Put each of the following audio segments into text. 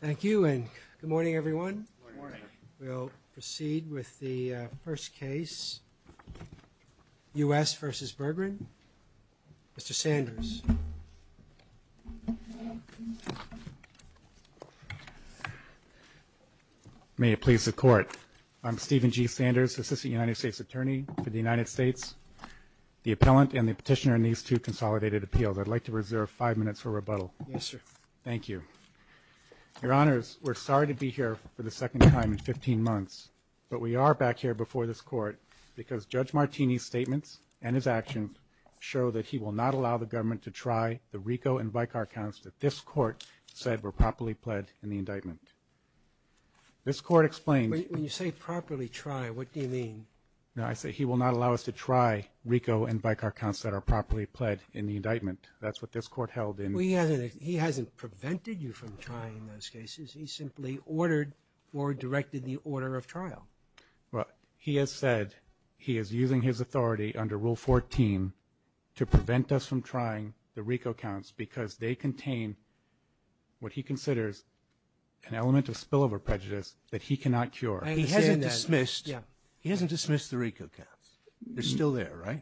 Thank you and good morning everyone. We'll proceed with the first case, U.S. v. Bergrin. Mr. Sanders. May it please the Court. I'm Stephen G. Sanders, Assistant United States Attorney for the United States, the appellant and the petitioner in these two consolidated appeals. I'd like to reserve five minutes for rebuttal. Yes, sir. Thank you. Your Honors, we're sorry to be here for the second time in 15 months, but we are back here before this Court because Judge Martini's statements and his actions show that he will not allow the government to try the RICO and VICAR counts that this Court said were properly pled in the indictment. This Court explained... When you say properly try, what do you mean? No, I say he will not allow us to try RICO and VICAR counts that are properly pled in the indictment. That's what this Court held in... Well, he hasn't prevented you from trying those cases. He simply ordered or directed the order of trial. Well, he has said he is using his authority under Rule 14 to prevent us from trying the RICO counts because they contain what he considers an element of spillover prejudice that he cannot cure. He hasn't dismissed the RICO counts. They're still there, right?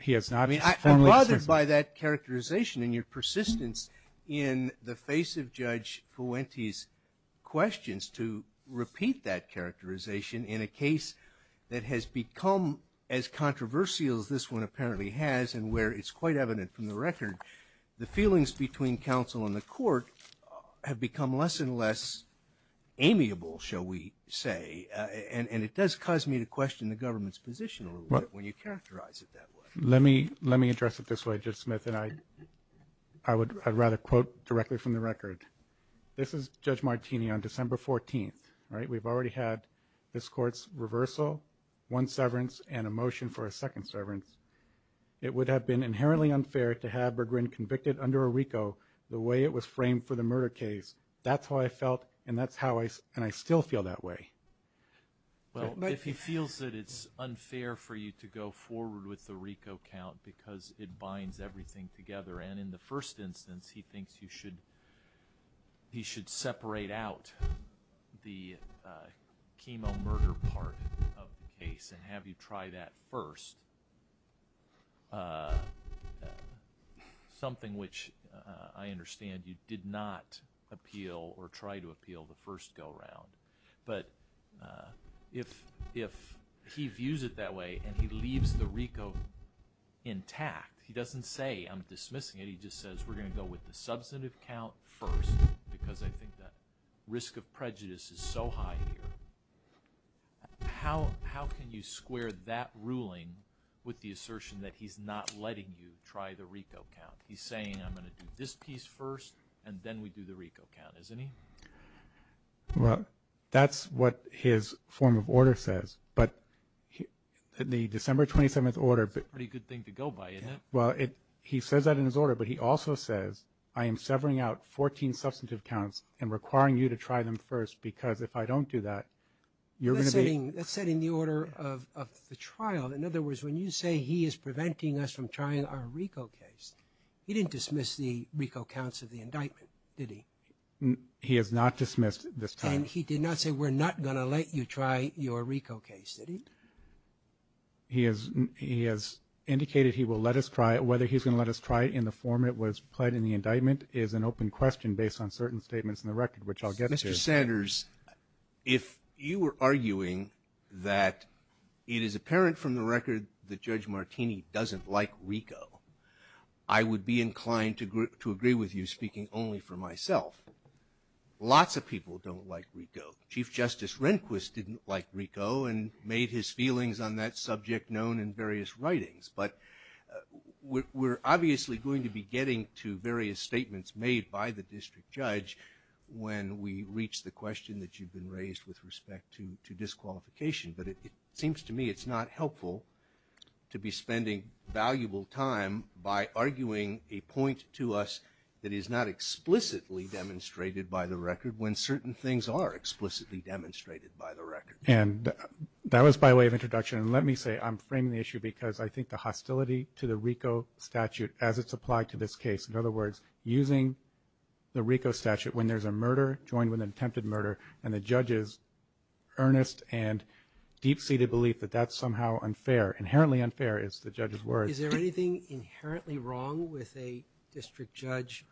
He has not. I mean, I'm bothered by that characterization and your persistence in the face of Judge Fuente's questions to repeat that characterization in a case that has become as controversial as this one apparently has and where it's quite evident from the record the feelings between counsel and the court have become less and less amiable, shall we say, and it does cause me to question the government's position when you characterize it that way. Let me address it this way, Judge Smith, and I would rather quote directly from the record. This is Judge Martini on December 14th. We've already had this Court's reversal, one severance, and a motion for a second severance. It would have been inherently unfair to have McGrin convicted under a RICO the way it was framed for the murder case. That's how I felt, and I still feel that way. Well, if he feels that it's unfair for you to go forward with the RICO count because it binds everything together, and in the first instance he thinks you should separate out the chemo murder part of the case and have you try that first, something which I understand you did not appeal or try to appeal the first go-round. But if he views it that way and he leaves the RICO intact, he doesn't say, I'm dismissing it, he just says, we're going to go with the substantive count first because I think the risk of prejudice is so high here. How can you square that ruling with the assertion that he's not letting you try the RICO count? He's saying, I'm going to do this piece first, and then we do the RICO count, isn't he? Well, that's what his form of order says, but the December 27th order… Pretty good thing to go by, isn't it? Well, he says that in his order, but he also says, I am severing out 14 substantive counts and requiring you to try them first because if I don't do that, you're going to be… That's said in the order of the trial. In other words, when you say he is preventing us from trying our RICO case, he didn't dismiss the RICO counts of the indictment, did he? He has not dismissed this time. And he did not say, we're not going to let you try your RICO case, did he? He has indicated he will let us try it. Whether he's going to let us try it in the form it was pled in the indictment is an open question based on certain statements in the record, which I'll get to. Mr. Sanders, if you were arguing that it is apparent from the record that Judge Martini doesn't like RICO, I would be inclined to agree with you speaking only for myself. Lots of people don't like RICO. Chief Justice Rehnquist didn't like RICO and made his feelings on that subject known in various writings. But we're obviously going to be getting to various statements made by the district judge when we reach the question that you've been raised with respect to disqualification. But it seems to me it's not helpful to be spending valuable time by arguing a point to us that is not explicitly demonstrated by the record when certain things are explicitly demonstrated by the record. And that was by way of introduction. And let me say I'm framing the issue because I think the hostility to the RICO statute as it's applied to this case, in other words, using the RICO statute when there's a murder joined with an attempted murder and the judge's earnest and deep-seated belief that that's somehow unfair, inherently unfair is the judge's words. Is there anything inherently wrong with a district judge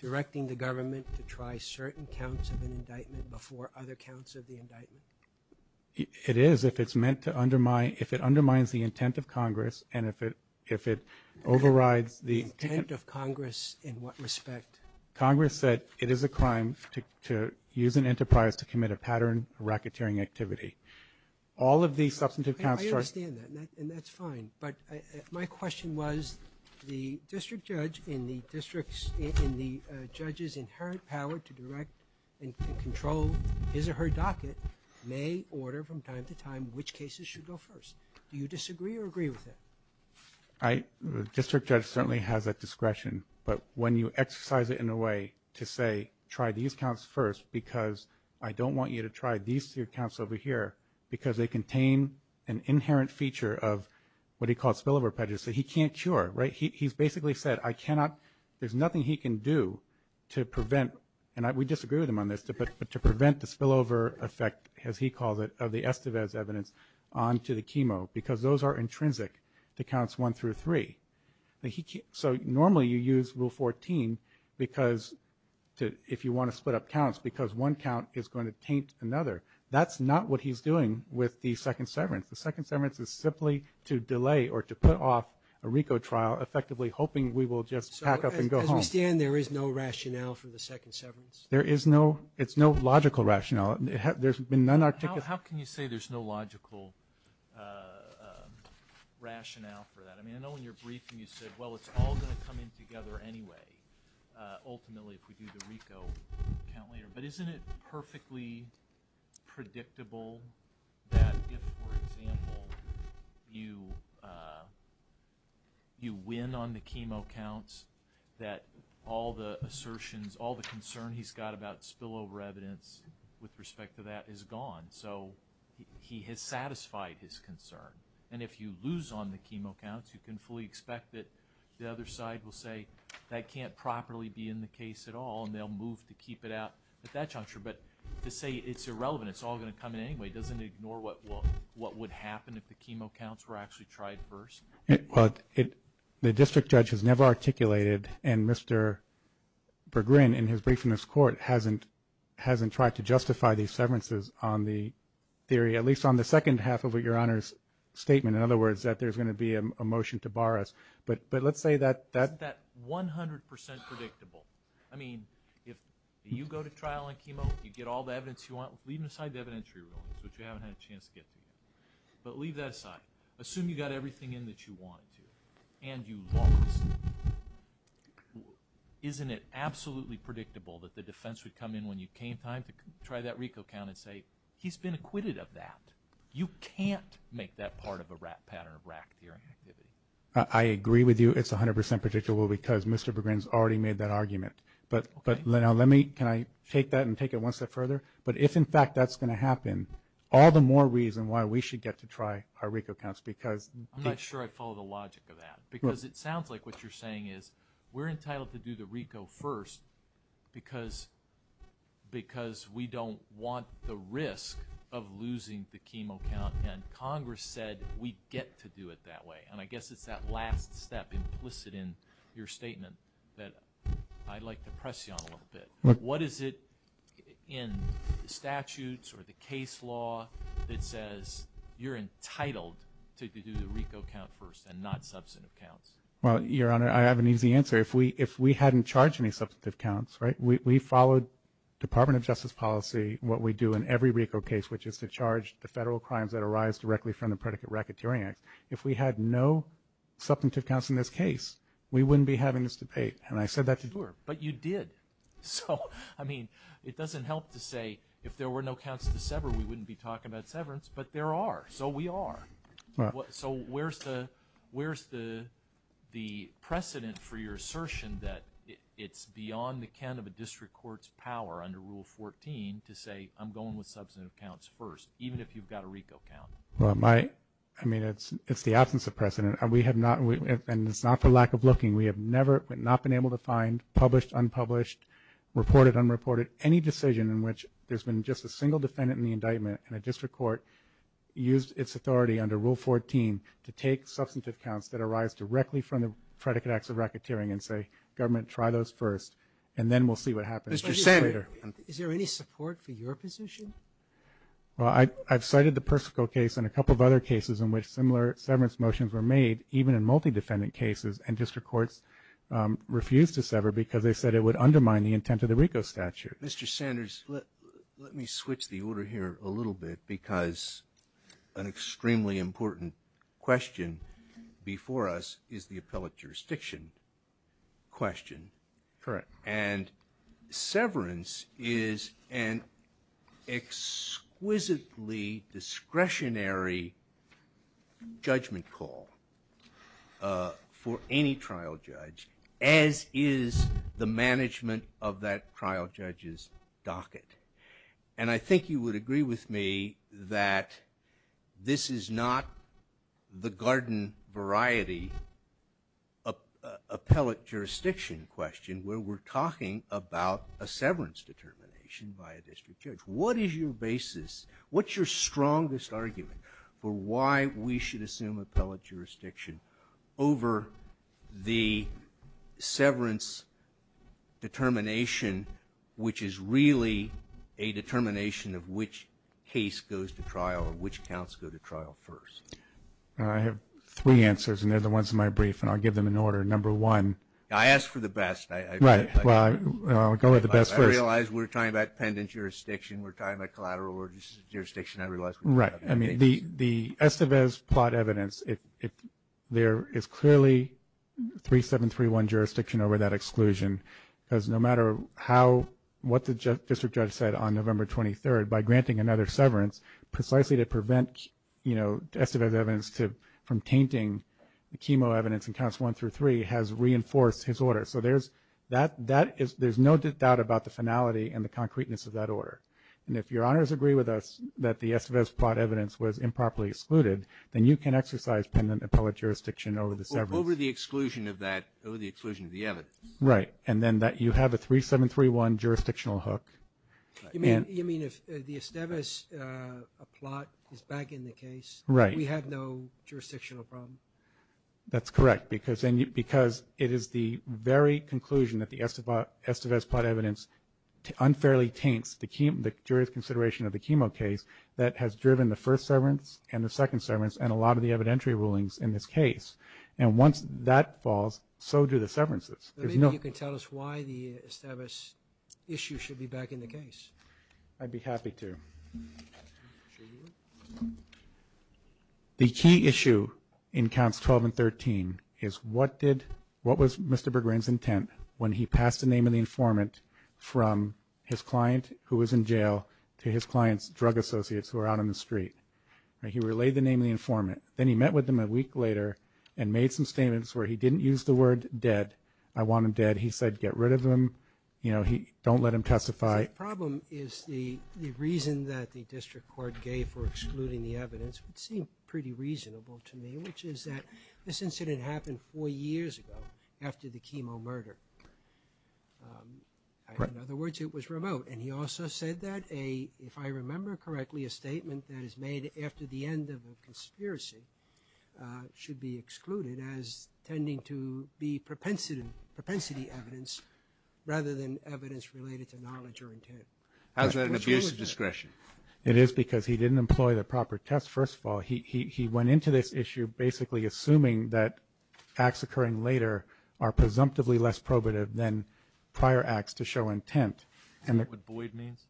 directing the government to try certain counts of an indictment before other counts of the indictment? It is if it's meant to undermine, if it undermines the intent of Congress and if it overrides the intent of Congress. The intent of Congress in what respect? Congress said it is a crime to use an enterprise to commit a pattern of racketeering activity. All of these substantive counts are. I understand that, and that's fine. But my question was the district judge in the judge's inherent power to direct and control his or her docket may order from time to time which cases should go first. Do you disagree or agree with that? The district judge certainly has that discretion, but when you exercise it in a way to say try these counts first because I don't want you to try these three counts over here because they contain an inherent feature of what he called spillover prejudice. He can't cure. He's basically said I cannot, there's nothing he can do to prevent, and we disagree with him on this, but to prevent the spillover effect, as he calls it, of the Estevez evidence onto the chemo because those are intrinsic to counts one through three. So normally you use Rule 14 if you want to split up counts because one count is going to taint another. That's not what he's doing with the second severance. The second severance is simply to delay or to put off a RICO trial, effectively hoping we will just pack up and go home. So as we stand there is no rationale for the second severance? There is no. It's no logical rationale. There's been none articulated. How can you say there's no logical rationale for that? I mean I know in your briefing you said, well, it's all going to come in together anyway, ultimately if we do the RICO count later. But isn't it perfectly predictable that if, for example, you win on the chemo counts that all the assertions, all the concern he's got about spillover evidence with respect to that is gone? So he has satisfied his concern. And if you lose on the chemo counts, you can fully expect that the other side will say that can't properly be in the case at all and they'll move to keep it out at that juncture. But to say it's irrelevant, it's all going to come in anyway, doesn't it ignore what would happen if the chemo counts were actually tried first? Well, the district judge has never articulated and Mr. Berggruen in his briefing in this court hasn't tried to justify these severances on the theory, at least on the second half of your Honor's statement. In other words, that there's going to be a motion to bar us. But let's say that that's that 100% predictable. I mean, if you go to trial on chemo, you get all the evidence you want, leave aside the evidentiary rulings, which you haven't had a chance to get to yet. But leave that aside. Assume you got everything in that you wanted to and you lost. Isn't it absolutely predictable that the defense would come in when you came time to try that RICO count and say he's been acquitted of that? You can't make that part of a pattern of rack-tearing activity. I agree with you. It's 100% predictable because Mr. Berggruen has already made that argument. But now let me take that and take it one step further. But if in fact that's going to happen, all the more reason why we should get to try our RICO counts because I'm not sure I follow the logic of that because it sounds like what you're saying is we're entitled to do the RICO first because we don't want the risk of losing the chemo count. And Congress said we get to do it that way. And I guess it's that last step implicit in your statement that I'd like to press you on a little bit. What is it in statutes or the case law that says you're entitled to do the RICO count first and not substantive counts? Well, Your Honor, I have an easy answer. If we hadn't charged any substantive counts, right, we followed Department of Justice policy, what we do in every RICO case, which is to charge the federal crimes that arise directly from the predicate if we had no substantive counts in this case, we wouldn't be having this debate. And I said that to you. But you did. So, I mean, it doesn't help to say if there were no counts to sever, we wouldn't be talking about severance. But there are. So we are. So where's the precedent for your assertion that it's beyond the can of a district court's power under Rule 14 to say, I'm going with substantive counts first, even if you've got a RICO count? Well, my – I mean, it's the absence of precedent. And we have not – and it's not for lack of looking. We have never but not been able to find published, unpublished, reported, unreported, any decision in which there's been just a single defendant in the indictment and a district court used its authority under Rule 14 to take substantive counts that arise directly from the predicate acts of racketeering and say, government, try those first, and then we'll see what happens later. Mr. Senator, is there any support for your position? Well, I've cited the Persico case and a couple of other cases in which similar severance motions were made, even in multi-defendant cases, and district courts refused to sever because they said it would undermine the intent of the RICO statute. Mr. Sanders, let me switch the order here a little bit because an extremely important question before us is the appellate jurisdiction question. Correct. And severance is an exquisitely discretionary judgment call for any trial judge, as is the management of that trial judge's docket. And I think you would agree with me that this is not the garden variety appellate jurisdiction question where we're talking about a severance determination by a district judge. What is your basis? What's your strongest argument for why we should assume appellate jurisdiction over the severance determination, which is really a determination of which case goes to trial or which counts go to trial first? I have three answers, and they're the ones in my brief, and I'll give them in order. I asked for the best. Right. Well, I'll go with the best first. I realize we're talking about pendent jurisdiction. We're talking about collateral jurisdiction. I realize we're talking about pendent. Right. I mean, the Estevez plot evidence, there is clearly 3731 jurisdiction over that exclusion because no matter what the district judge said on November 23rd, by granting another severance, precisely to prevent Estevez evidence from tainting the chemo evidence in counts one through three, has reinforced his order. So there's no doubt about the finality and the concreteness of that order. And if Your Honors agree with us that the Estevez plot evidence was improperly excluded, then you can exercise pendent appellate jurisdiction over the severance. Over the exclusion of the evidence. Right. And then you have a 3731 jurisdictional hook. You mean if the Estevez plot is back in the case. Right. We have no jurisdictional problem. That's correct because it is the very conclusion that the Estevez plot evidence unfairly taints the jury's consideration of the chemo case that has driven the first severance and the second severance and a lot of the evidentiary rulings in this case. And once that falls, so do the severances. Maybe you can tell us why the Estevez issue should be back in the case. I'd be happy to. The key issue in counts 12 and 13 is what was Mr. Berggren's intent when he passed the name of the informant from his client who was in jail to his client's drug associates who were out on the street. He relayed the name of the informant. Then he met with them a week later and made some statements where he didn't use the word dead. I want him dead. He said get rid of him. Don't let him testify. The problem is the reason that the district court gave for excluding the evidence would seem pretty reasonable to me, which is that this incident happened four years ago after the chemo murder. In other words, it was remote. And he also said that, if I remember correctly, a statement that is made after the end of a conspiracy should be excluded as tending to be propensity evidence rather than evidence related to knowledge or intent. How is that an abuse of discretion? It is because he didn't employ the proper test, first of all. He went into this issue basically assuming that acts occurring later are presumptively less probative than prior acts to show intent. Is that what Boyd means?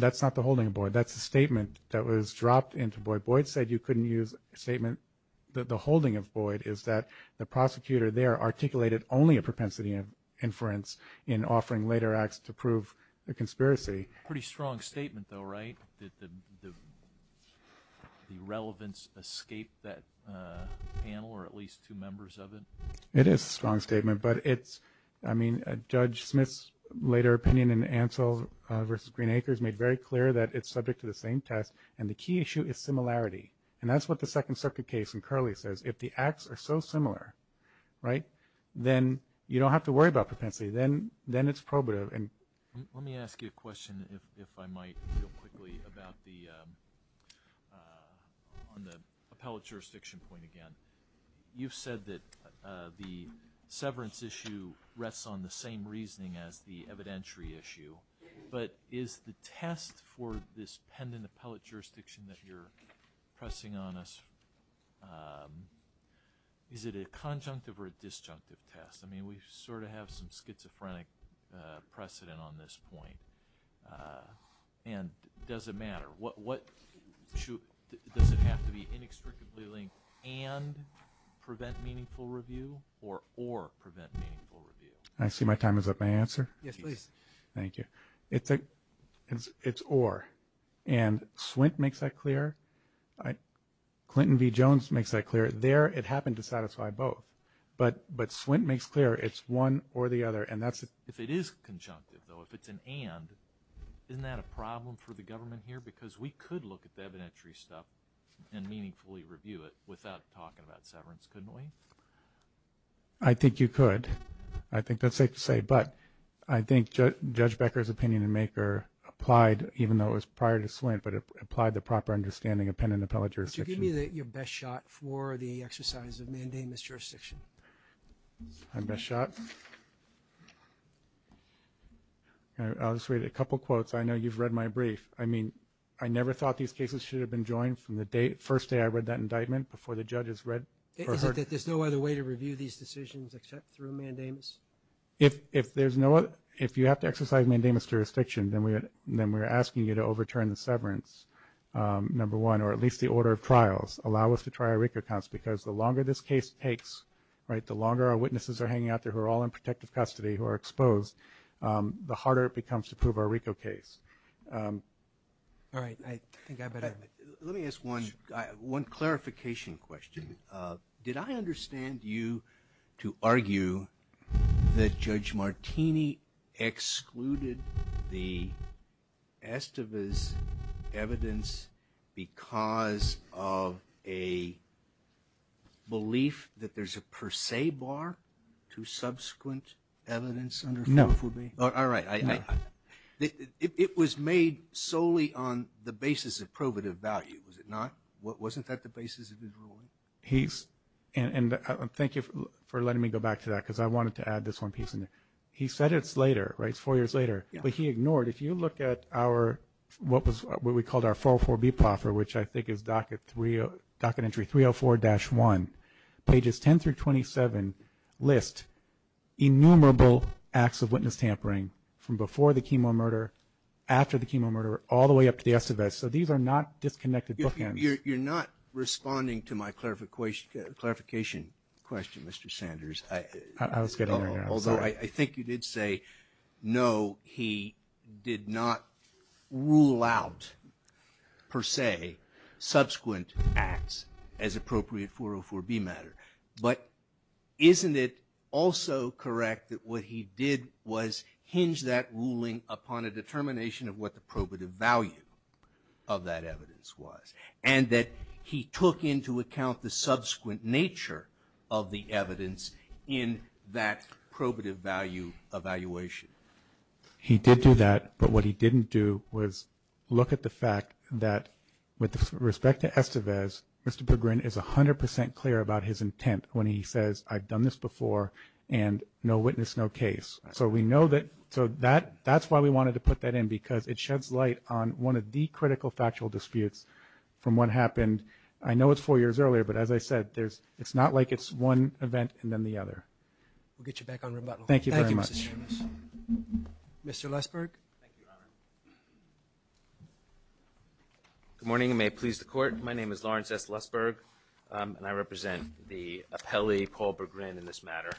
That's not the holding of Boyd. That's a statement that was dropped into Boyd. Boyd said you couldn't use a statement. The holding of Boyd is that the prosecutor there articulated only a propensity inference in offering later acts to prove a conspiracy. Pretty strong statement, though, right, that the relevance escaped that panel or at least two members of it? It is a strong statement. I mean, Judge Smith's later opinion in Ansell v. Green Acres made very clear that it's subject to the same test. And the key issue is similarity. And that's what the Second Circuit case in Curley says. If the acts are so similar, right, then you don't have to worry about propensity. Then it's probative. Let me ask you a question, if I might, real quickly, on the appellate jurisdiction point again. You've said that the severance issue rests on the same reasoning as the evidentiary issue. But is the test for this pendant appellate jurisdiction that you're pressing on us, is it a conjunctive or a disjunctive test? I mean, we sort of have some schizophrenic precedent on this point. And does it matter? Does it have to be inextricably linked and prevent meaningful review or or prevent meaningful review? I see my time is up. May I answer? Yes, please. Thank you. It's or. And Swint makes that clear. Clinton v. Jones makes that clear. There it happened to satisfy both. But Swint makes clear it's one or the other. If it is conjunctive, though, if it's an and, isn't that a problem for the government here? Because we could look at the evidentiary stuff and meaningfully review it without talking about severance, couldn't we? I think you could. I think that's safe to say. But I think Judge Becker's opinion in Maker applied, even though it was prior to Swint, but it applied the proper understanding of pendant appellate jurisdiction. Could you give me your best shot for the exercise of mandamus jurisdiction? My best shot? I'll just read a couple quotes. I know you've read my brief. I mean, I never thought these cases should have been joined from the first day I read that indictment before the judges read. Is it that there's no other way to review these decisions except through mandamus? If you have to exercise mandamus jurisdiction, then we're asking you to overturn the severance, number one, or at least the order of trials, allow us to try our RICO counts, because the longer this case takes, right, the longer our witnesses are hanging out there who are all in protective custody who are exposed, the harder it becomes to prove our RICO case. All right. I think I better. Let me ask one clarification question. Did I understand you to argue that Judge Martini excluded the estivus evidence because of a belief that there's a per se bar to subsequent evidence? No. All right. It was made solely on the basis of probative value, was it not? Wasn't that the basis of his ruling? And thank you for letting me go back to that because I wanted to add this one piece. He said it's later, right, it's four years later, but he ignored. If you look at what we called our 404B proffer, which I think is docket entry 304-1, pages 10 through 27 list innumerable acts of witness tampering from before the chemo murder, after the chemo murder, all the way up to the estivus. So these are not disconnected bookends. You're not responding to my clarification question, Mr. Sanders. I was getting there. Although I think you did say, no, he did not rule out per se subsequent acts as appropriate 404B matter. But isn't it also correct that what he did was hinge that ruling upon a determination of what the probative value of that evidence was, and that he took into account the subsequent nature of the evidence in that probative value evaluation? He did do that, but what he didn't do was look at the fact that with respect to estivus, Mr. Berggruen is 100% clear about his intent when he says, I've done this before, and no witness, no case. So we know that so that's why we wanted to put that in, because it sheds light on one of the critical factual disputes from what happened. I know it's four years earlier, but as I said, it's not like it's one event and then the other. We'll get you back on rebuttal. Thank you very much. Thank you, Mr. Sanders. Mr. Lesburg. Thank you, Your Honor. Good morning, and may it please the Court. My name is Lawrence S. Lesburg, and I represent the appellee, Paul Berggruen, in this matter.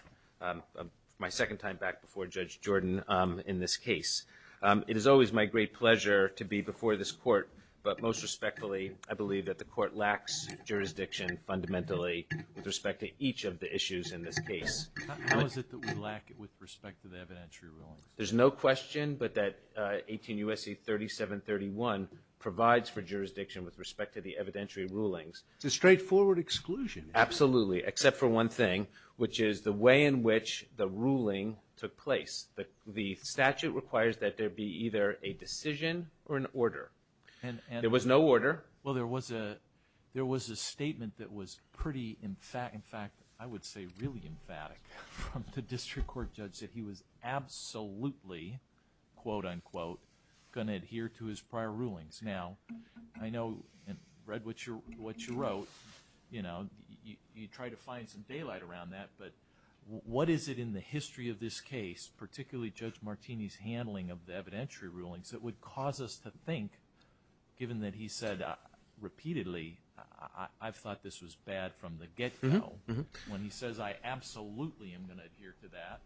My second time back before Judge Jordan in this case. It is always my great pleasure to be before this Court, but most respectfully, I believe that the Court lacks jurisdiction fundamentally with respect to each of the issues in this case. How is it that we lack it with respect to the evidentiary rulings? There's no question but that 18 U.S.C. 3731 provides for jurisdiction with respect to the evidentiary rulings. It's a straightforward exclusion. Absolutely, except for one thing, which is the way in which the ruling took place. The statute requires that there be either a decision or an order. There was no order. Well, there was a statement that was pretty, in fact, I would say really emphatic, from the district court judge that he was absolutely, quote-unquote, going to adhere to his prior rulings. Now, I know and read what you wrote, you know, you try to find some daylight around that, but what is it in the history of this case, particularly Judge Martini's handling of the evidentiary rulings, that would cause us to think, given that he said repeatedly, I've thought this was bad from the get-go, when he says, I absolutely am going to adhere to that,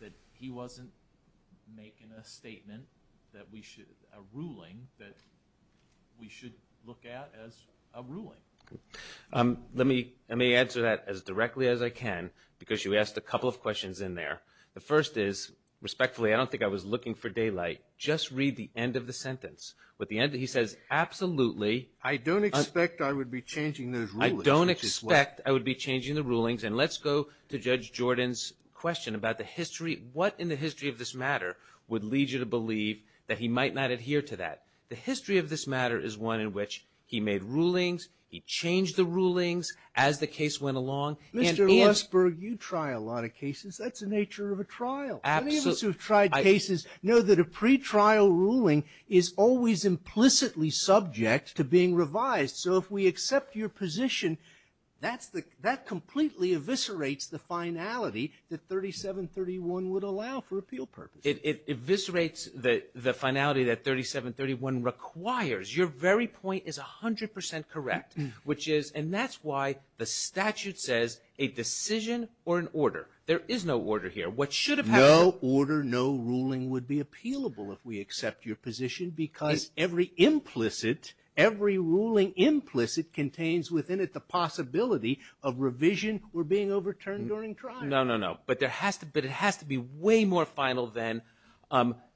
that he wasn't making a statement that we should, a ruling that we should look at as a ruling? Let me answer that as directly as I can, because you asked a couple of questions in there. The first is, respectfully, I don't think I was looking for daylight. Just read the end of the sentence. He says, absolutely. I don't expect I would be changing those rulings. I don't expect I would be changing the rulings. And let's go to Judge Jordan's question about the history. What in the history of this matter would lead you to believe that he might not adhere to that? The history of this matter is one in which he made rulings, he changed the rulings as the case went along. Mr. Rosberg, you try a lot of cases. That's the nature of a trial. Many of us who have tried cases know that a pretrial ruling is always implicitly subject to being revised. So if we accept your position, that completely eviscerates the finality that 3731 would allow for appeal purposes. It eviscerates the finality that 3731 requires. Your very point is 100% correct, which is, and that's why the statute says a decision or an order. There is no order here. What should have happened? No order, no ruling would be appealable if we accept your position, because every implicit, every ruling implicit contains within it the possibility of revision or being overturned during trial. No, no, no. But it has to be way more final than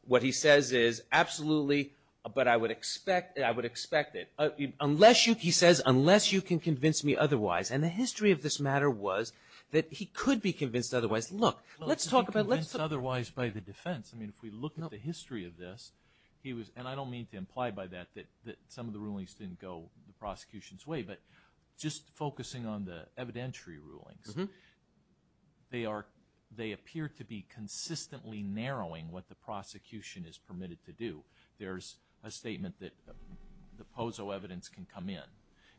what he says is absolutely, but I would expect it. Unless you, he says, unless you can convince me otherwise. And the history of this matter was that he could be convinced otherwise. Look, let's talk about. He could be convinced otherwise by the defense. I mean, if we look at the history of this, he was, and I don't mean to imply by that that some of the rulings didn't go the prosecution's way, but just focusing on the evidentiary rulings, they are, they appear to be consistently narrowing what the prosecution is permitted to do. There's a statement that the POSO evidence can come in,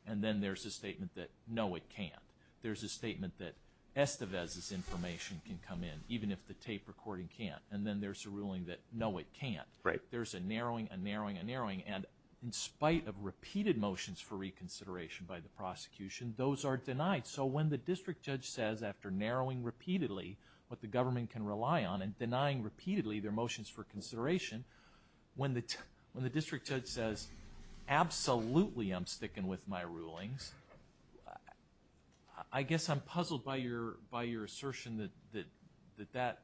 and then there's a statement that, no, it can't. There's a statement that Estevez's information can come in, even if the tape recording can't. And then there's a ruling that, no, it can't. Right. There's a narrowing, a narrowing, a narrowing, and in spite of repeated motions for reconsideration by the prosecution, those are denied. So when the district judge says, after narrowing repeatedly what the government can rely on and denying repeatedly their motions for consideration, when the district judge says, absolutely I'm sticking with my rulings, I guess I'm puzzled by your assertion that that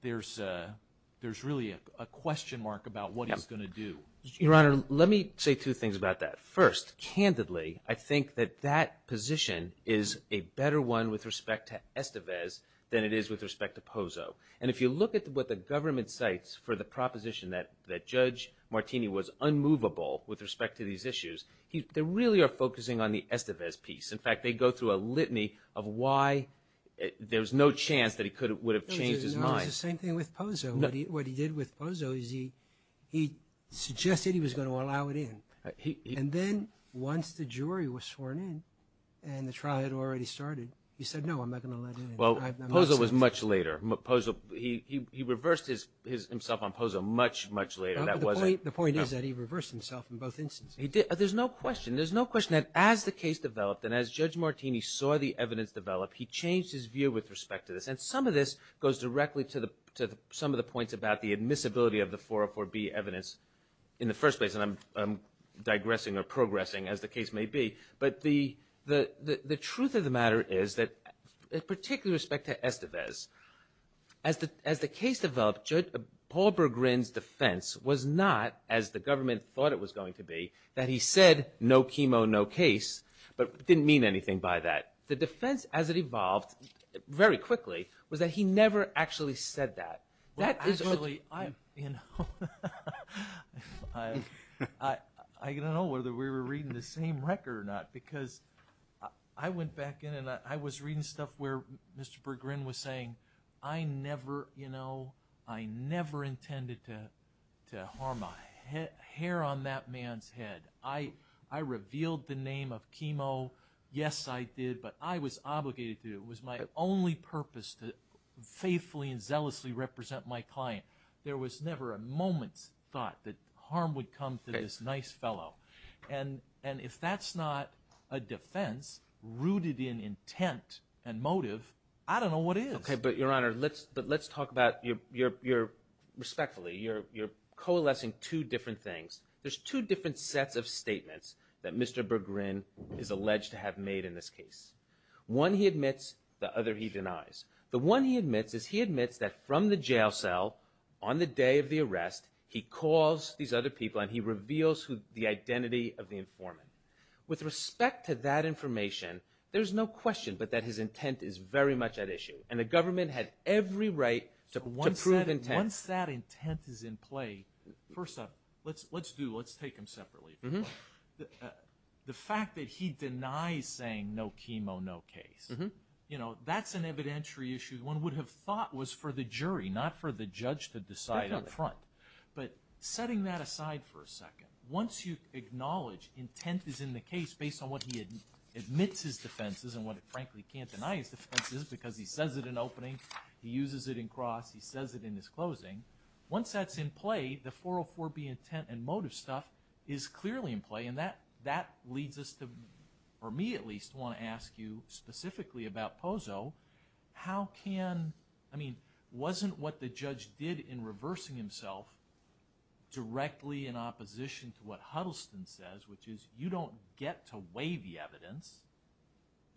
there's really a question mark about what he's going to do. Your Honor, let me say two things about that. First, candidly, I think that that position is a better one with respect to Estevez than it is with respect to POSO. And if you look at what the government cites for the proposition that Judge Martini was unmovable with respect to these issues, they really are focusing on the Estevez piece. In fact, they go through a litany of why there's no chance that he would have changed his mind. No, it's the same thing with POSO. What he did with POSO is he suggested he was going to allow it in. And then once the jury was sworn in and the trial had already started, he said, no, I'm not going to let in. Well, POSO was much later. He reversed himself on POSO much, much later. The point is that he reversed himself in both instances. There's no question. There's no question that as the case developed and as Judge Martini saw the evidence develop, he changed his view with respect to this. And some of this goes directly to some of the points about the admissibility of the 404B evidence in the first place. And I'm digressing or progressing, as the case may be. But the truth of the matter is that with particular respect to Estevez, as the case developed, Paul Berggren's defense was not, as the government thought it was going to be, that he said no chemo, no case, but didn't mean anything by that. The defense as it evolved very quickly was that he never actually said that. Actually, I don't know whether we were reading the same record or not. Because I went back in and I was reading stuff where Mr. Berggren was saying, I never, you know, I never intended to harm a hair on that man's head. I revealed the name of chemo. Yes, I did. But I was obligated to do it. It was my only purpose to faithfully and zealously represent my client. There was never a moment's thought that harm would come to this nice fellow. And if that's not a defense rooted in intent and motive, I don't know what is. Okay, but, Your Honor, let's talk about, respectfully, you're coalescing two different things. There's two different sets of statements that Mr. Berggren is alleged to have made in this case. One he admits, the other he denies. The one he admits is he admits that from the jail cell on the day of the arrest, he calls these other people and he reveals the identity of the informant. With respect to that information, there's no question but that his intent is very much at issue. And the government had every right to prove intent. Once that intent is in play, first up, let's do, let's take them separately. The fact that he denies saying no chemo, no case, you know, that's an evidentiary issue. One would have thought was for the jury, not for the judge to decide up front. But setting that aside for a second, once you acknowledge intent is in the case based on what he admits his defenses and what he frankly can't deny his defenses because he says it in opening, he uses it in cross, he says it in his closing. Once that's in play, the 404B intent and motive stuff is clearly in play. And that leads us to, or me at least, want to ask you specifically about Pozo. How can, I mean, wasn't what the judge did in reversing himself directly in opposition to what Huddleston says, which is you don't get to weigh the evidence.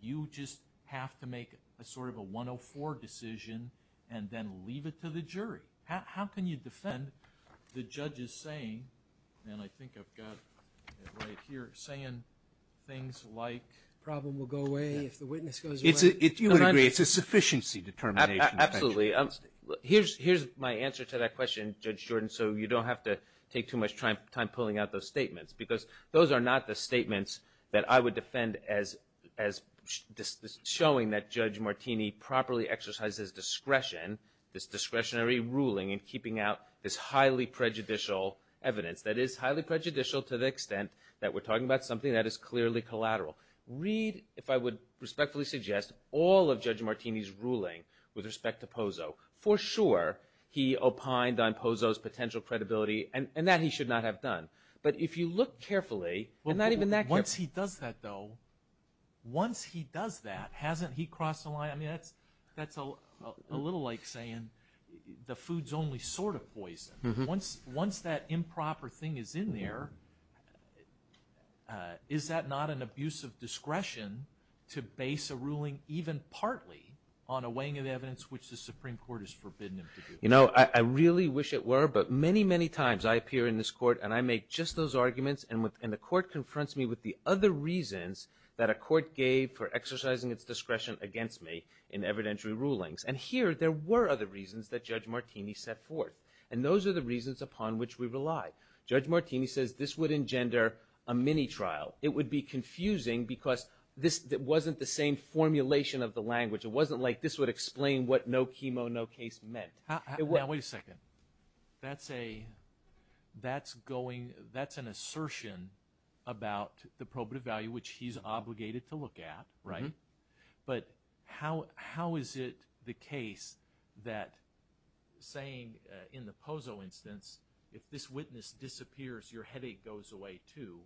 You just have to make a sort of a 104 decision and then leave it to the jury. How can you defend the judge's saying, and I think I've got it right here, saying things like problem will go away if the witness goes away. It's a, you would agree, it's a sufficiency determination. Absolutely. Here's my answer to that question, Judge Jordan, so you don't have to take too much time pulling out those statements. Because those are not the statements that I would defend as showing that Judge Martini properly exercises discretion, this discretionary ruling in keeping out this highly prejudicial evidence. That is highly prejudicial to the extent that we're talking about something that is clearly collateral. Read, if I would respectfully suggest, all of Judge Martini's ruling with respect to Pozo. For sure, he opined on Pozo's potential credibility, and that he should not have done. But if you look carefully, and not even that carefully. Once he does that, though, once he does that, hasn't he crossed the line? I mean, that's a little like saying the food's only sort of poison. Once that improper thing is in there, is that not an abuse of discretion to base a ruling even partly on a weighing of evidence, which the Supreme Court has forbidden him to do? You know, I really wish it were, but many, many times I appear in this court and I make just those arguments, and the court confronts me with the other reasons that a court gave for exercising its discretion against me in evidentiary rulings. And here, there were other reasons that Judge Martini set forth. And those are the reasons upon which we rely. Judge Martini says this would engender a mini-trial. It would be confusing because this wasn't the same formulation of the language. It wasn't like this would explain what no chemo, no case meant. Now, wait a second. That's an assertion about the probative value, which he's obligated to look at, right? But how is it the case that saying in the Pozo instance, if this witness disappears, your headache goes away, too,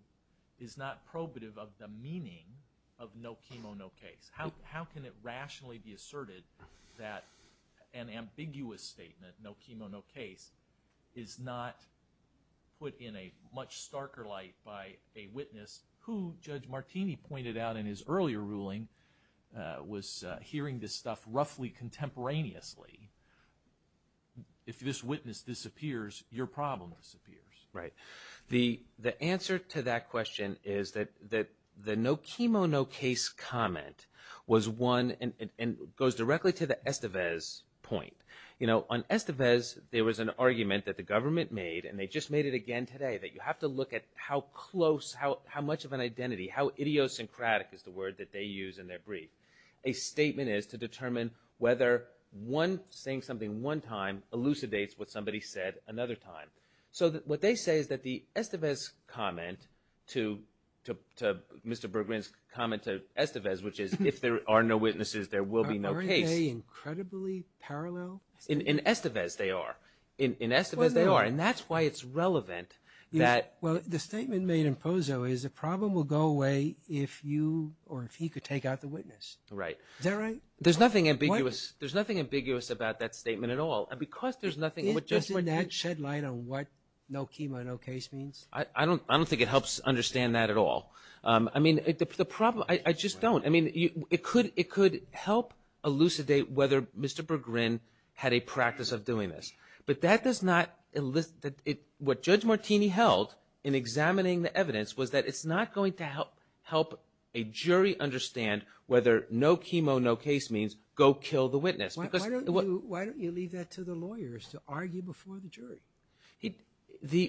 is not probative of the meaning of no chemo, no case? How can it rationally be asserted that an ambiguous statement, no chemo, no case, is not put in a much starker light by a witness who, Judge Martini pointed out in his earlier ruling, was hearing this stuff roughly contemporaneously. If this witness disappears, your problem disappears. The answer to that question is that the no chemo, no case comment was one and goes directly to the Estevez point. On Estevez, there was an argument that the government made, and they just made it again today, that you have to look at how close, how much of an identity, how idiosyncratic is the word that they use in their brief. A statement is to determine whether saying something one time elucidates what somebody said another time. So what they say is that the Estevez comment to Mr. Bergman's comment to Estevez, which is if there are no witnesses, there will be no case. Aren't they incredibly parallel? In Estevez, they are. In Estevez, they are. And that's why it's relevant that – Well, the statement made in Pozo is the problem will go away if you or if he could take out the witness. Right. Is that right? There's nothing ambiguous about that statement at all. Because there's nothing – Isn't that shed light on what no chemo, no case means? I don't think it helps understand that at all. I mean, the problem – I just don't. I mean, it could help elucidate whether Mr. Bergman had a practice of doing this. But that does not – what Judge Martini held in examining the evidence was that it's not going to help a jury understand whether no chemo, no case means go kill the witness. Why don't you leave that to the lawyers to argue before the jury?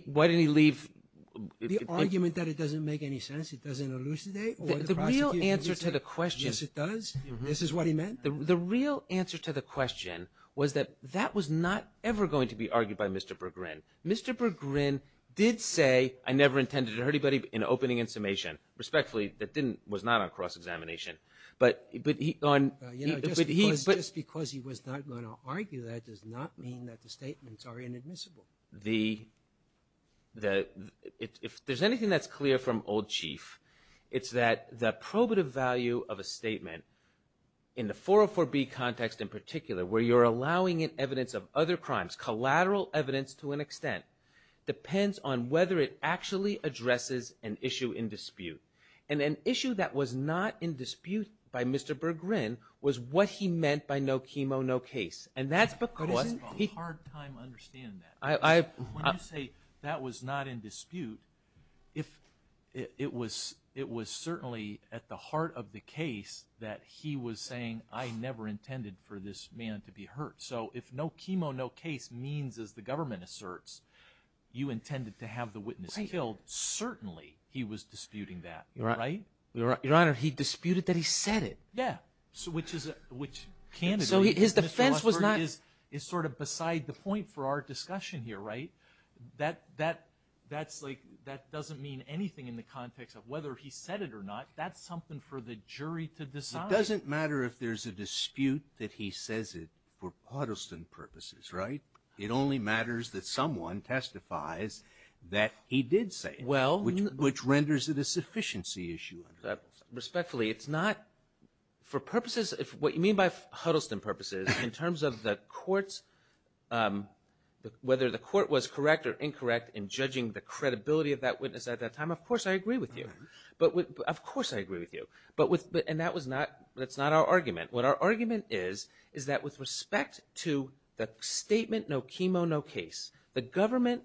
Why didn't he leave – The argument that it doesn't make any sense, it doesn't elucidate, or the prosecution – The real answer to the question – Yes, it does. This is what he meant. The real answer to the question was that that was not ever going to be argued by Mr. Bergman. Mr. Bergman did say, I never intended to hurt anybody in opening and summation. Respectfully, that didn't – was not on cross-examination. But he – Just because he was not going to argue that does not mean that the statements are inadmissible. The – if there's anything that's clear from Old Chief, it's that the probative value of a statement in the 404B context in particular, where you're allowing evidence of other crimes, collateral evidence to an extent, depends on whether it actually addresses an issue in dispute. And an issue that was not in dispute by Mr. Bergman was what he meant by no chemo, no case. And that's because – It's a hard time understanding that. When you say that was not in dispute, it was certainly at the heart of the case that he was saying, I never intended for this man to be hurt. So if no chemo, no case means, as the government asserts, you intended to have the witness killed, certainly he was disputing that, right? Your Honor, he disputed that he said it. Yeah. Which is a – which – So his defense was not – Mr. Musberg is sort of beside the point for our discussion here, right? That's like – that doesn't mean anything in the context of whether he said it or not. That's something for the jury to decide. It doesn't matter if there's a dispute that he says it for partisan purposes, right? It only matters that someone testifies that he did say it, which renders it a sufficiency issue. Respectfully, it's not – for purposes – what you mean by Huddleston purposes, in terms of the court's – whether the court was correct or incorrect in judging the credibility of that witness at that time, of course I agree with you. Of course I agree with you. And that was not – that's not our argument. What our argument is, is that with respect to the statement, no chemo, no case, the government,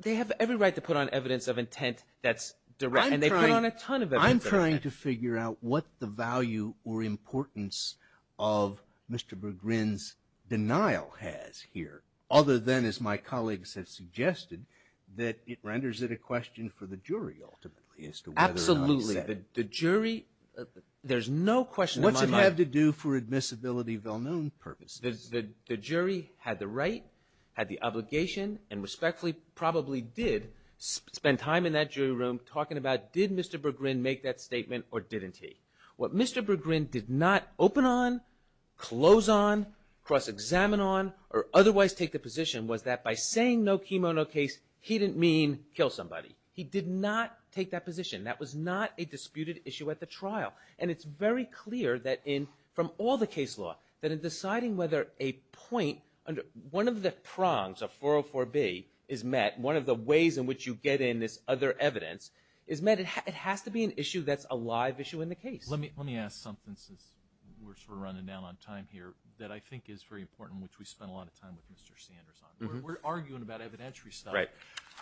they have every right to put on evidence of intent that's direct. And they put on a ton of evidence of intent. I'm trying to figure out what the value or importance of Mr. McGrin's denial has here, other than, as my colleagues have suggested, that it renders it a question for the jury ultimately as to whether or not he said it. Absolutely. The jury – there's no question in my mind. It had to do for admissibility well-known purposes. The jury had the right, had the obligation, and respectfully probably did spend time in that jury room talking about, did Mr. McGrin make that statement or didn't he? What Mr. McGrin did not open on, close on, cross-examine on, or otherwise take the position was that by saying no chemo, no case, he didn't mean kill somebody. He did not take that position. That was not a disputed issue at the trial. And it's very clear that in, from all the case law, that in deciding whether a point under one of the prongs of 404B is met, one of the ways in which you get in this other evidence is met, it has to be an issue that's a live issue in the case. Let me ask something since we're sort of running down on time here that I think is very important, which we spent a lot of time with Mr. Sanders on. We're arguing about evidentiary stuff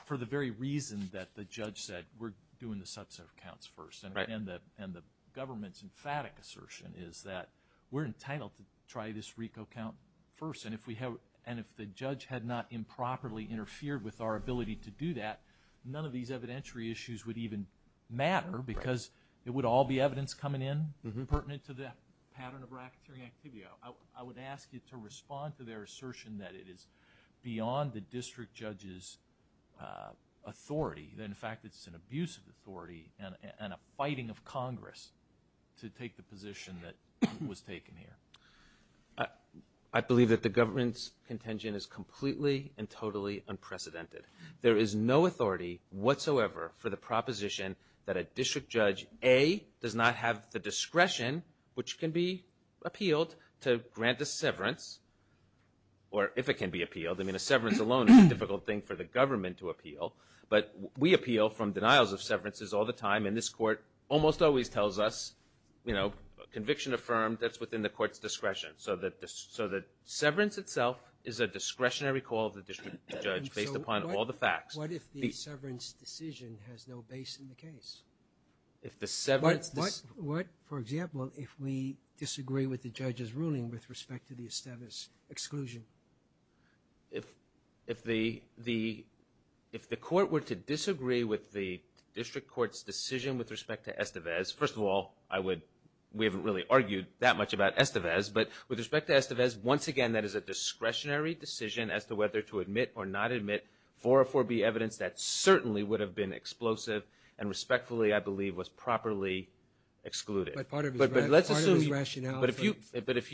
for the very reason that the judge said, we're doing the subset of counts first. And the government's emphatic assertion is that we're entitled to try this RICO count first. And if the judge had not improperly interfered with our ability to do that, none of these evidentiary issues would even matter because it would all be evidence coming in pertinent to the pattern of racketeering activity. I would ask you to respond to their assertion that it is beyond the district judge's authority, that in fact it's an abusive authority and a fighting of Congress to take the position that was taken here. I believe that the government's contention is completely and totally unprecedented. There is no authority whatsoever for the proposition that a district judge, A, does not have the discretion, which can be appealed, to grant a severance, or if it can be appealed. I mean, a severance alone is a difficult thing for the government to appeal. But we appeal from denials of severances all the time. And this court almost always tells us, you know, conviction affirmed, that's within the court's discretion. So the severance itself is a discretionary call of the district judge based upon all the facts. What if the severance decision has no base in the case? What, for example, if we disagree with the judge's ruling with respect to the Estevez exclusion? If the court were to disagree with the district court's decision with respect to Estevez, first of all, we haven't really argued that much about Estevez, but with respect to Estevez, once again, that is a discretionary decision as to whether to admit or not admit 404B evidence that certainly would have been explosive and respectfully, I believe, was properly excluded. But if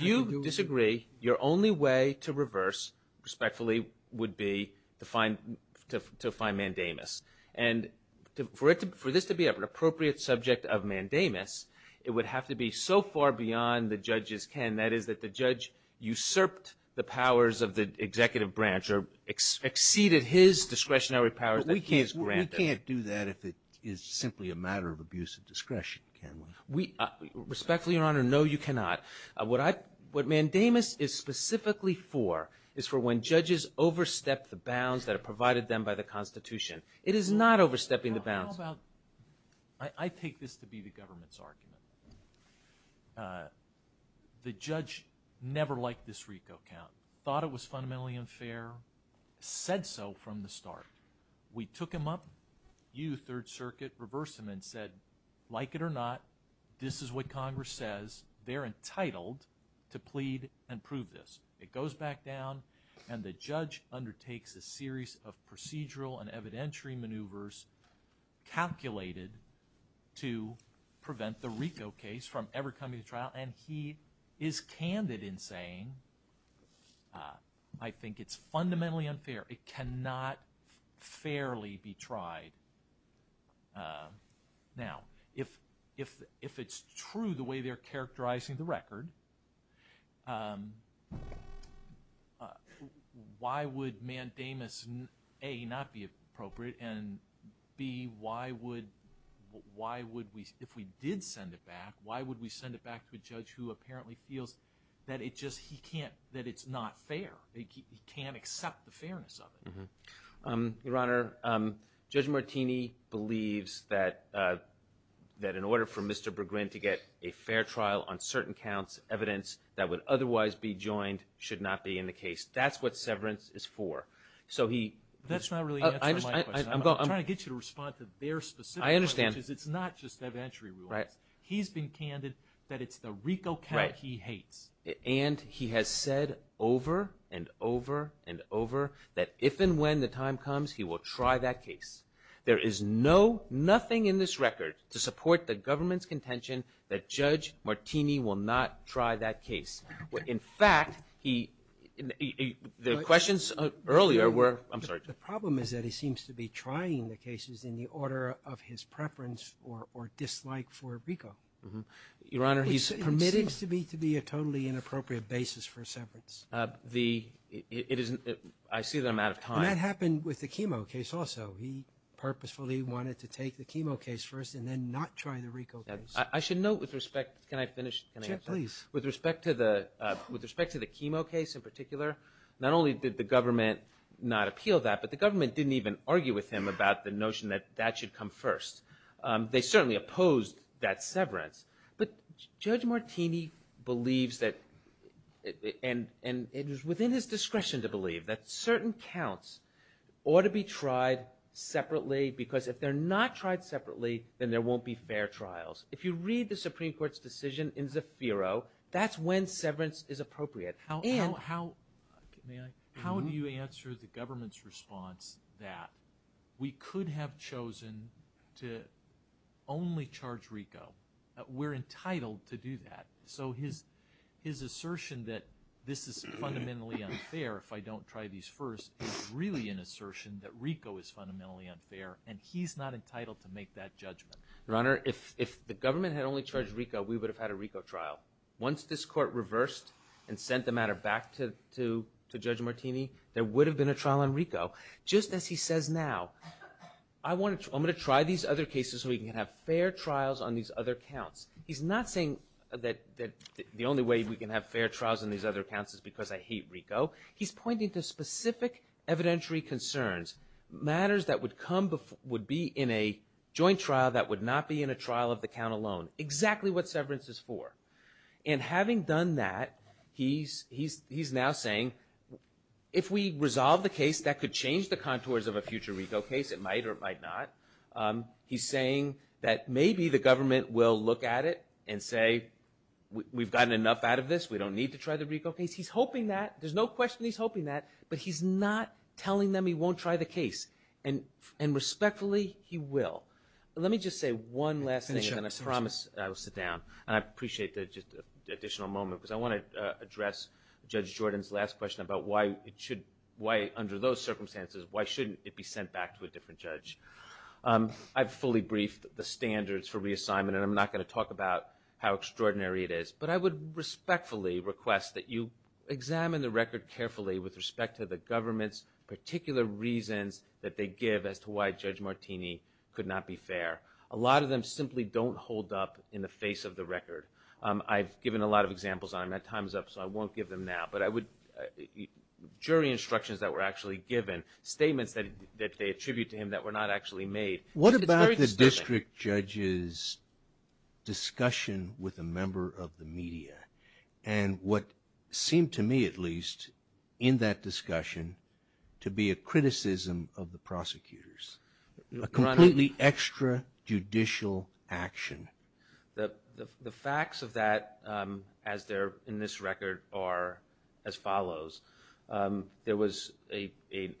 you disagree, your only way to reverse respectfully would be to find Mandamus. And for this to be an appropriate subject of Mandamus, it would have to be so far beyond the judge's ken, that is, that the judge usurped the powers of the executive branch or exceeded his discretionary powers. But we can't do that if it is simply a matter of abuse of discretion, can we? Respectfully, Your Honor, no, you cannot. What Mandamus is specifically for is for when judges overstep the bounds that are provided to them by the Constitution. It is not overstepping the bounds. How about I take this to be the government's argument. The judge never liked this RICO count, thought it was fundamentally unfair, said so from the start. We took him up, you, Third Circuit, reversed him and said, like it or not, this is what Congress says, they're entitled to plead and prove this. It goes back down and the judge undertakes a series of procedural and evidentiary maneuvers calculated to prevent the RICO case from ever coming to trial and he is candid in saying, I think it's fundamentally unfair. It cannot fairly be tried. Now, if it's true the way they're characterizing the record, why would Mandamus, A, not be appropriate and, B, why would we, if we did send it back, why would we send it back to a judge who apparently feels that it just, he can't, that it's not fair. He can't accept the fairness of it. Your Honor, Judge Martini believes that in order for Mr. Berggren to get a fair trial on certain counts, evidence that would otherwise be joined should not be in the case. That's what severance is for. That's not really answering my question. I'm trying to get you to respond to their specific point. I understand. It's not just evidentiary rulings. He's been candid that it's the RICO count he hates. And he has said over and over and over that if and when the time comes, he will try that case. There is no, nothing in this record to support the government's contention that Judge Martini will not try that case. In fact, the questions earlier were, I'm sorry. The problem is that he seems to be trying the cases in the order of his preference or dislike for RICO. Your Honor, he's permitted. It seems to me to be a totally inappropriate basis for severance. The, it isn't, I see that I'm out of time. And that happened with the chemo case also. He purposefully wanted to take the chemo case first and then not try the RICO case. I should note with respect, can I finish? Sure, please. With respect to the chemo case in particular, not only did the government not appeal that, but the government didn't even argue with him about the notion that that should come first. They certainly opposed that severance. But Judge Martini believes that, and it was within his discretion to believe, that certain counts ought to be tried separately because if they're not tried separately, then there won't be fair trials. If you read the Supreme Court's decision in Zafiro, that's when severance is appropriate. How, may I? How do you answer the government's response that we could have chosen to only charge RICO? We're entitled to do that. So his assertion that this is fundamentally unfair if I don't try these first is really an assertion that RICO is fundamentally unfair, and he's not entitled to make that judgment. Your Honor, if the government had only charged RICO, we would have had a RICO trial. Once this court reversed and sent the matter back to Judge Martini, there would have been a trial on RICO. Just as he says now, I'm going to try these other cases so we can have fair trials on these other counts. He's not saying that the only way we can have fair trials on these other counts is because I hate RICO. He's pointing to specific evidentiary concerns. Matters that would be in a joint trial that would not be in a trial of the count alone. Exactly what severance is for. And having done that, he's now saying if we resolve the case, that could change the contours of a future RICO case. It might or it might not. He's saying that maybe the government will look at it and say we've gotten enough out of this. We don't need to try the RICO case. He's hoping that. There's no question he's hoping that. But he's not telling them he won't try the case. And respectfully, he will. Let me just say one last thing and then I promise I will sit down. And I appreciate the additional moment because I want to address Judge Jordan's last question about why under those circumstances, why shouldn't it be sent back to a different judge? I've fully briefed the standards for reassignment and I'm not going to talk about how extraordinary it is. But I would respectfully request that you examine the record carefully with respect to the government's particular reasons that they give as to why Judge Martini could not be fair. A lot of them simply don't hold up in the face of the record. I've given a lot of examples on them. That time is up so I won't give them now. But I would, jury instructions that were actually given, statements that they attribute to him that were not actually made. What about the district judge's discussion with a member of the media? And what seemed to me at least in that discussion to be a criticism of the prosecutors, a completely extrajudicial action? The facts of that as they're in this record are as follows. There was a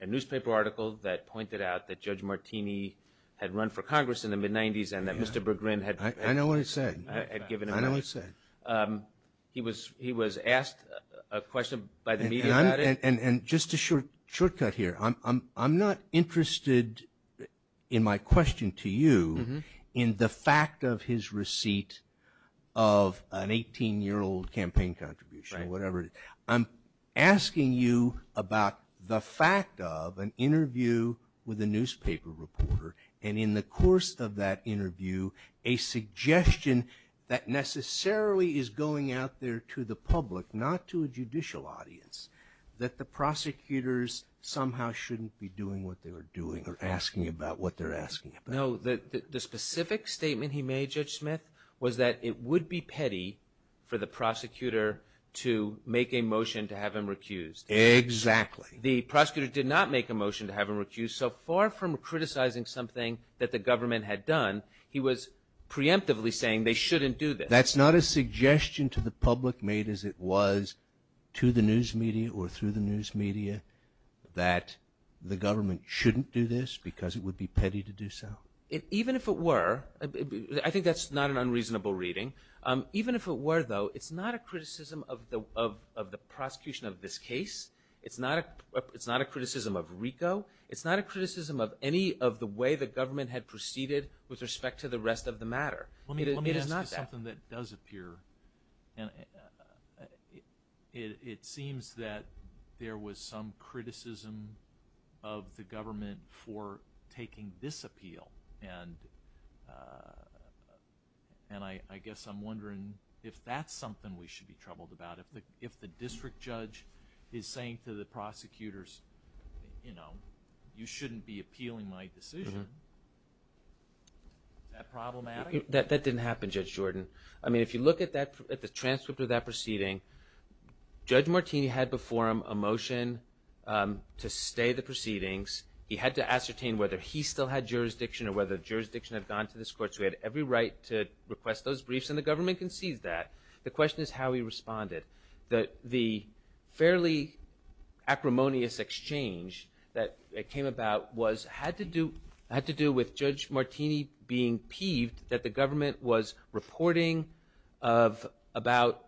newspaper article that pointed out that Judge Martini had run for Congress in the mid-'90s and that Mr. McGrin had given him a raise. I know what he said. I know what he said. He was asked a question by the media about it. And just a shortcut here, I'm not interested in my question to you in the fact of his receipt of an 18-year-old campaign contribution or whatever it is. I'm asking you about the fact of an interview with a newspaper reporter and in the course of that interview a suggestion that necessarily is going out there to the public, not to a judicial audience, that the prosecutors somehow shouldn't be doing what they were doing or asking about what they're asking about. No, the specific statement he made, Judge Smith, was that it would be petty for the prosecutor to make a motion to have him recused. Exactly. The prosecutor did not make a motion to have him recused. So far from criticizing something that the government had done, he was preemptively saying they shouldn't do this. That's not a suggestion to the public made as it was to the news media or through the news media that the government shouldn't do this because it would be petty to do so. Even if it were, I think that's not an unreasonable reading. Even if it were, though, it's not a criticism of the prosecution of this case. It's not a criticism of RICO. It's not a criticism of any of the way the government had proceeded with respect to the rest of the matter. It is not that. Something that does appear, and it seems that there was some criticism of the government for taking this appeal, and I guess I'm wondering if that's something we should be troubled about. If the district judge is saying to the prosecutors, you know, you shouldn't be appealing my decision, is that problematic? That didn't happen, Judge Jordan. I mean, if you look at the transcript of that proceeding, Judge Martini had before him a motion to stay the proceedings. He had to ascertain whether he still had jurisdiction or whether the jurisdiction had gone to this court. So he had every right to request those briefs, and the government concedes that. The question is how he responded. The fairly acrimonious exchange that came about had to do with Judge Martini being peeved that the government was reporting about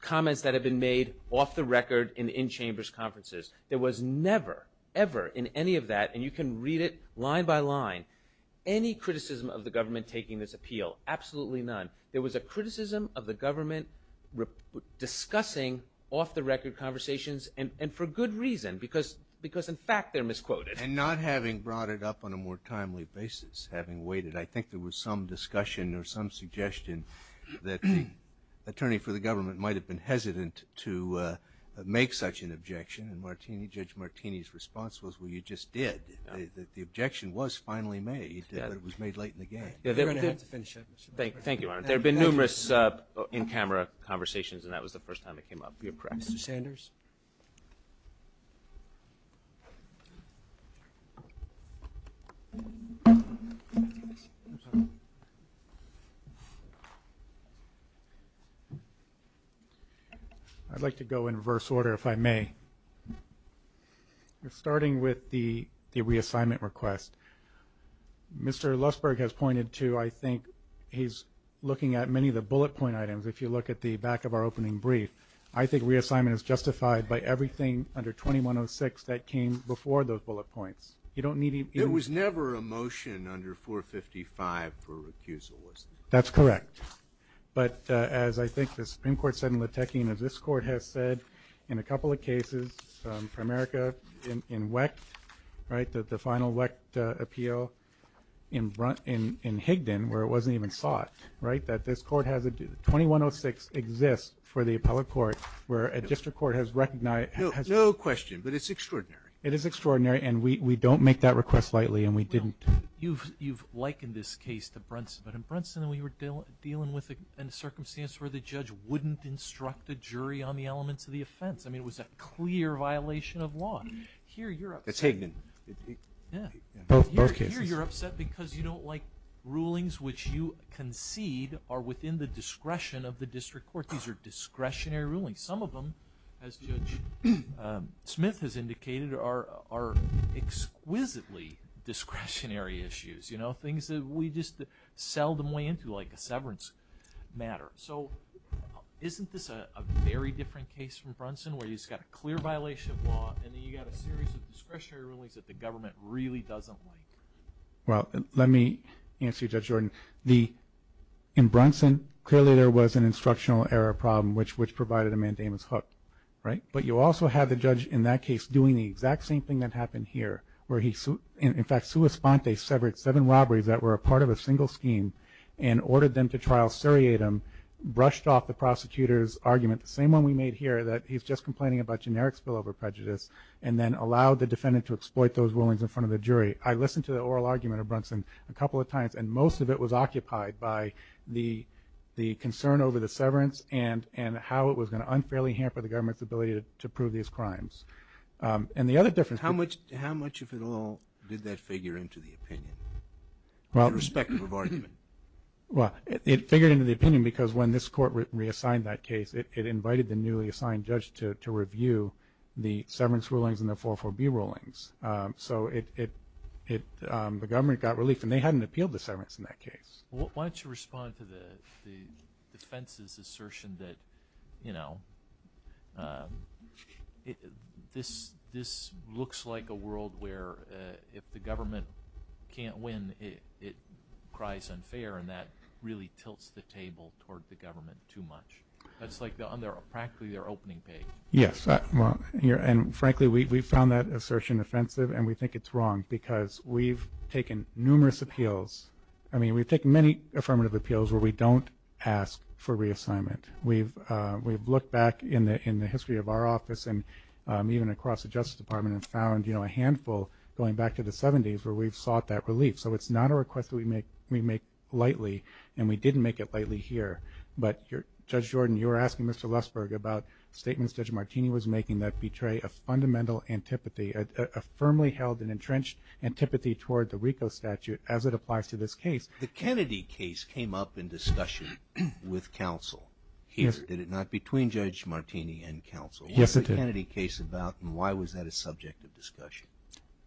comments that had been made off the record in the in-chambers conferences. There was never, ever in any of that, and you can read it line by line, any criticism of the government taking this appeal. Absolutely none. There was a criticism of the government discussing off-the-record conversations, and for good reason, because in fact they're misquoted. And not having brought it up on a more timely basis, having waited. I think there was some discussion or some suggestion that the attorney for the government might have been hesitant to make such an objection, and Judge Martini's response was, well, you just did. The objection was finally made, but it was made late in the game. Thank you, Your Honor. There have been numerous in-camera conversations, and that was the first time it came up. You're correct. Mr. Sanders? I'd like to go in reverse order, if I may. We're starting with the reassignment request. Mr. Lussberg has pointed to, I think, he's looking at many of the bullet point items, if you look at the back of our opening brief. I think reassignment is justified by everything under 2106 that came before those bullet points. There was never a motion under 455 for recusal, was there? That's correct. But as I think the Supreme Court said in Latekin, as this Court has said in a couple of cases, for America in Wecht, right, the final Wecht appeal in Higdon, where it wasn't even sought, right, that this Court has a 2106 exists for the appellate court where a district court has recognized. No question, but it's extraordinary. It is extraordinary, and we don't make that request lightly, and we didn't. You've likened this case to Brunson, but in Brunson we were dealing with a circumstance where the judge wouldn't instruct a jury on the elements of the offense. I mean, it was a clear violation of law. Here you're upset. That's Higdon. Yeah. Both cases. Here you're upset because you don't like rulings which you concede are within the discretion of the district court. These are discretionary rulings. I mean, some of them, as Judge Smith has indicated, are exquisitely discretionary issues, you know, things that we just seldom weigh into like a severance matter. So isn't this a very different case from Brunson where you just got a clear violation of law and then you got a series of discretionary rulings that the government really doesn't like? Well, let me answer you, Judge Jordan. In Brunson, clearly there was an instructional error problem which provided a mandamus hook, right? But you also have the judge in that case doing the exact same thing that happened here where he, in fact, sua sponte, severed seven robberies that were a part of a single scheme and ordered them to trial seriatim, brushed off the prosecutor's argument, the same one we made here that he's just complaining about generic spillover prejudice, and then allowed the defendant to exploit those rulings in front of the jury. I listened to the oral argument of Brunson a couple of times, and most of it was occupied by the concern over the severance and how it was going to unfairly hamper the government's ability to prove these crimes. And the other difference... How much of it all did that figure into the opinion with respect to the argument? Well, it figured into the opinion because when this court reassigned that case, it invited the newly assigned judge to review the severance rulings and the 404B rulings. So the government got relief, and they hadn't appealed the severance in that case. Why don't you respond to the defense's assertion that, you know, this looks like a world where if the government can't win, it cries unfair, and that really tilts the table toward the government too much. That's like practically their opening page. Yes. And, frankly, we found that assertion offensive, and we think it's wrong because we've taken numerous appeals. I mean, we've taken many affirmative appeals where we don't ask for reassignment. We've looked back in the history of our office and even across the Justice Department and found, you know, a handful going back to the 70s where we've sought that relief. So it's not a request that we make lightly, and we didn't make it lightly here. But, Judge Jordan, you were asking Mr. Lussberg about statements Judge Martini was making that betray a fundamental antipathy, a firmly held and entrenched antipathy toward the RICO statute as it applies to this case. The Kennedy case came up in discussion with counsel. Did it not? Between Judge Martini and counsel. Yes, it did. What was the Kennedy case about, and why was that a subject of discussion?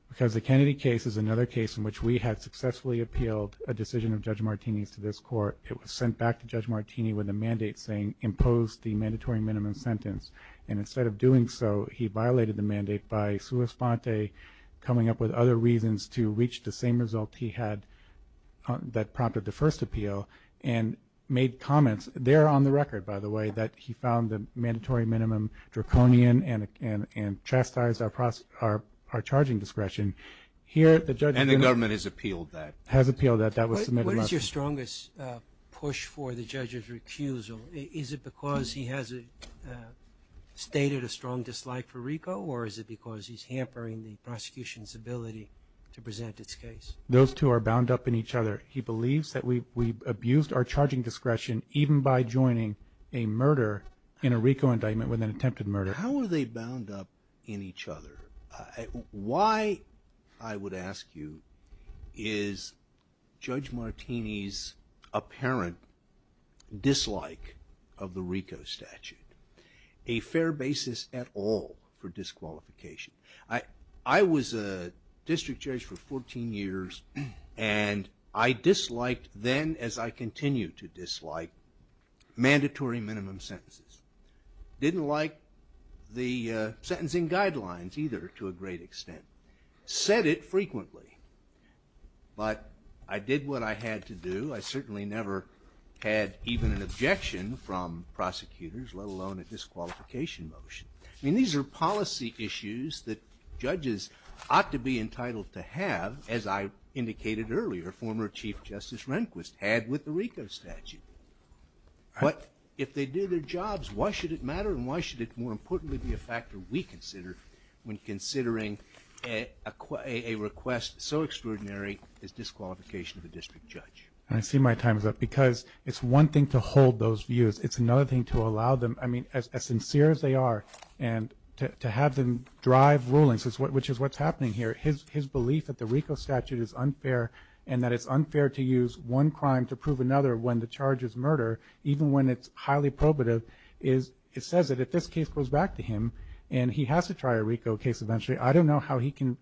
Because the Kennedy case is another case in which we had successfully appealed a decision of Judge Martini's to this Court. It was sent back to Judge Martini with a mandate saying impose the mandatory minimum sentence. And instead of doing so, he violated the mandate by sua sponte, coming up with other reasons to reach the same result he had that prompted the first appeal and made comments there on the record, by the way, that he found the mandatory minimum draconian and chastised our charging discretion. And the government has appealed that? Has appealed that. What is your strongest push for the judge's recusal? Is it because he has stated a strong dislike for RICO, or is it because he's hampering the prosecution's ability to present its case? Those two are bound up in each other. He believes that we've abused our charging discretion even by joining a murder in a RICO indictment with an attempted murder. How are they bound up in each other? Why, I would ask you, is Judge Martini's apparent dislike of the RICO statute a fair basis at all for disqualification? I was a district judge for 14 years, and I disliked then, as I continue to dislike, mandatory minimum sentences. Didn't like the sentencing guidelines either to a great extent. Said it frequently. But I did what I had to do. I certainly never had even an objection from prosecutors, let alone a disqualification motion. I mean, these are policy issues that judges ought to be entitled to have, as I indicated earlier, former Chief Justice Rehnquist had with the RICO statute. But if they do their jobs, why should it matter and why should it, more importantly, be a factor we consider when considering a request so extraordinary as disqualification of a district judge? I see my time is up because it's one thing to hold those views. It's another thing to allow them, I mean, as sincere as they are, and to have them drive rulings, which is what's happening here. His belief that the RICO statute is unfair and that it's unfair to use one crime to prove another when the charge is murder, even when it's highly probative, it says that if this case goes back to him and he has to try a RICO case eventually, I don't know how he can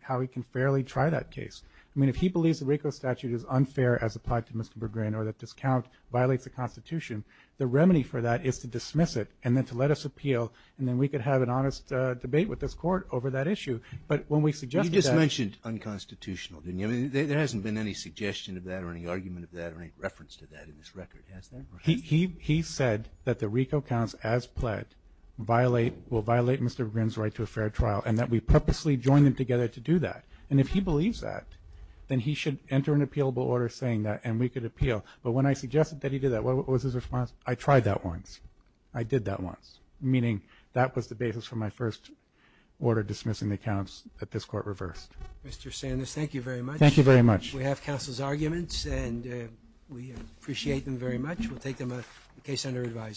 fairly try that case. I mean, if he believes the RICO statute is unfair as applied to Mr. Berggren or that this count violates the Constitution, the remedy for that is to dismiss it and then to let us appeal, and then we could have an honest debate with this Court over that issue. But when we suggested that. You just mentioned unconstitutional, didn't you? I mean, there hasn't been any suggestion of that or any argument of that or any reference to that in this record, has there? He said that the RICO counts as pled will violate Mr. Berggren's right to a fair trial and that we purposely joined them together to do that. And if he believes that, then he should enter an appealable order saying that and we could appeal. But when I suggested that he did that, what was his response? I tried that once. I did that once, meaning that was the basis for my first order dismissing the counts that this Court reversed. Mr. Sanders, thank you very much. Thank you very much. We have counsel's arguments and we appreciate them very much. We'll take them in case under advisement.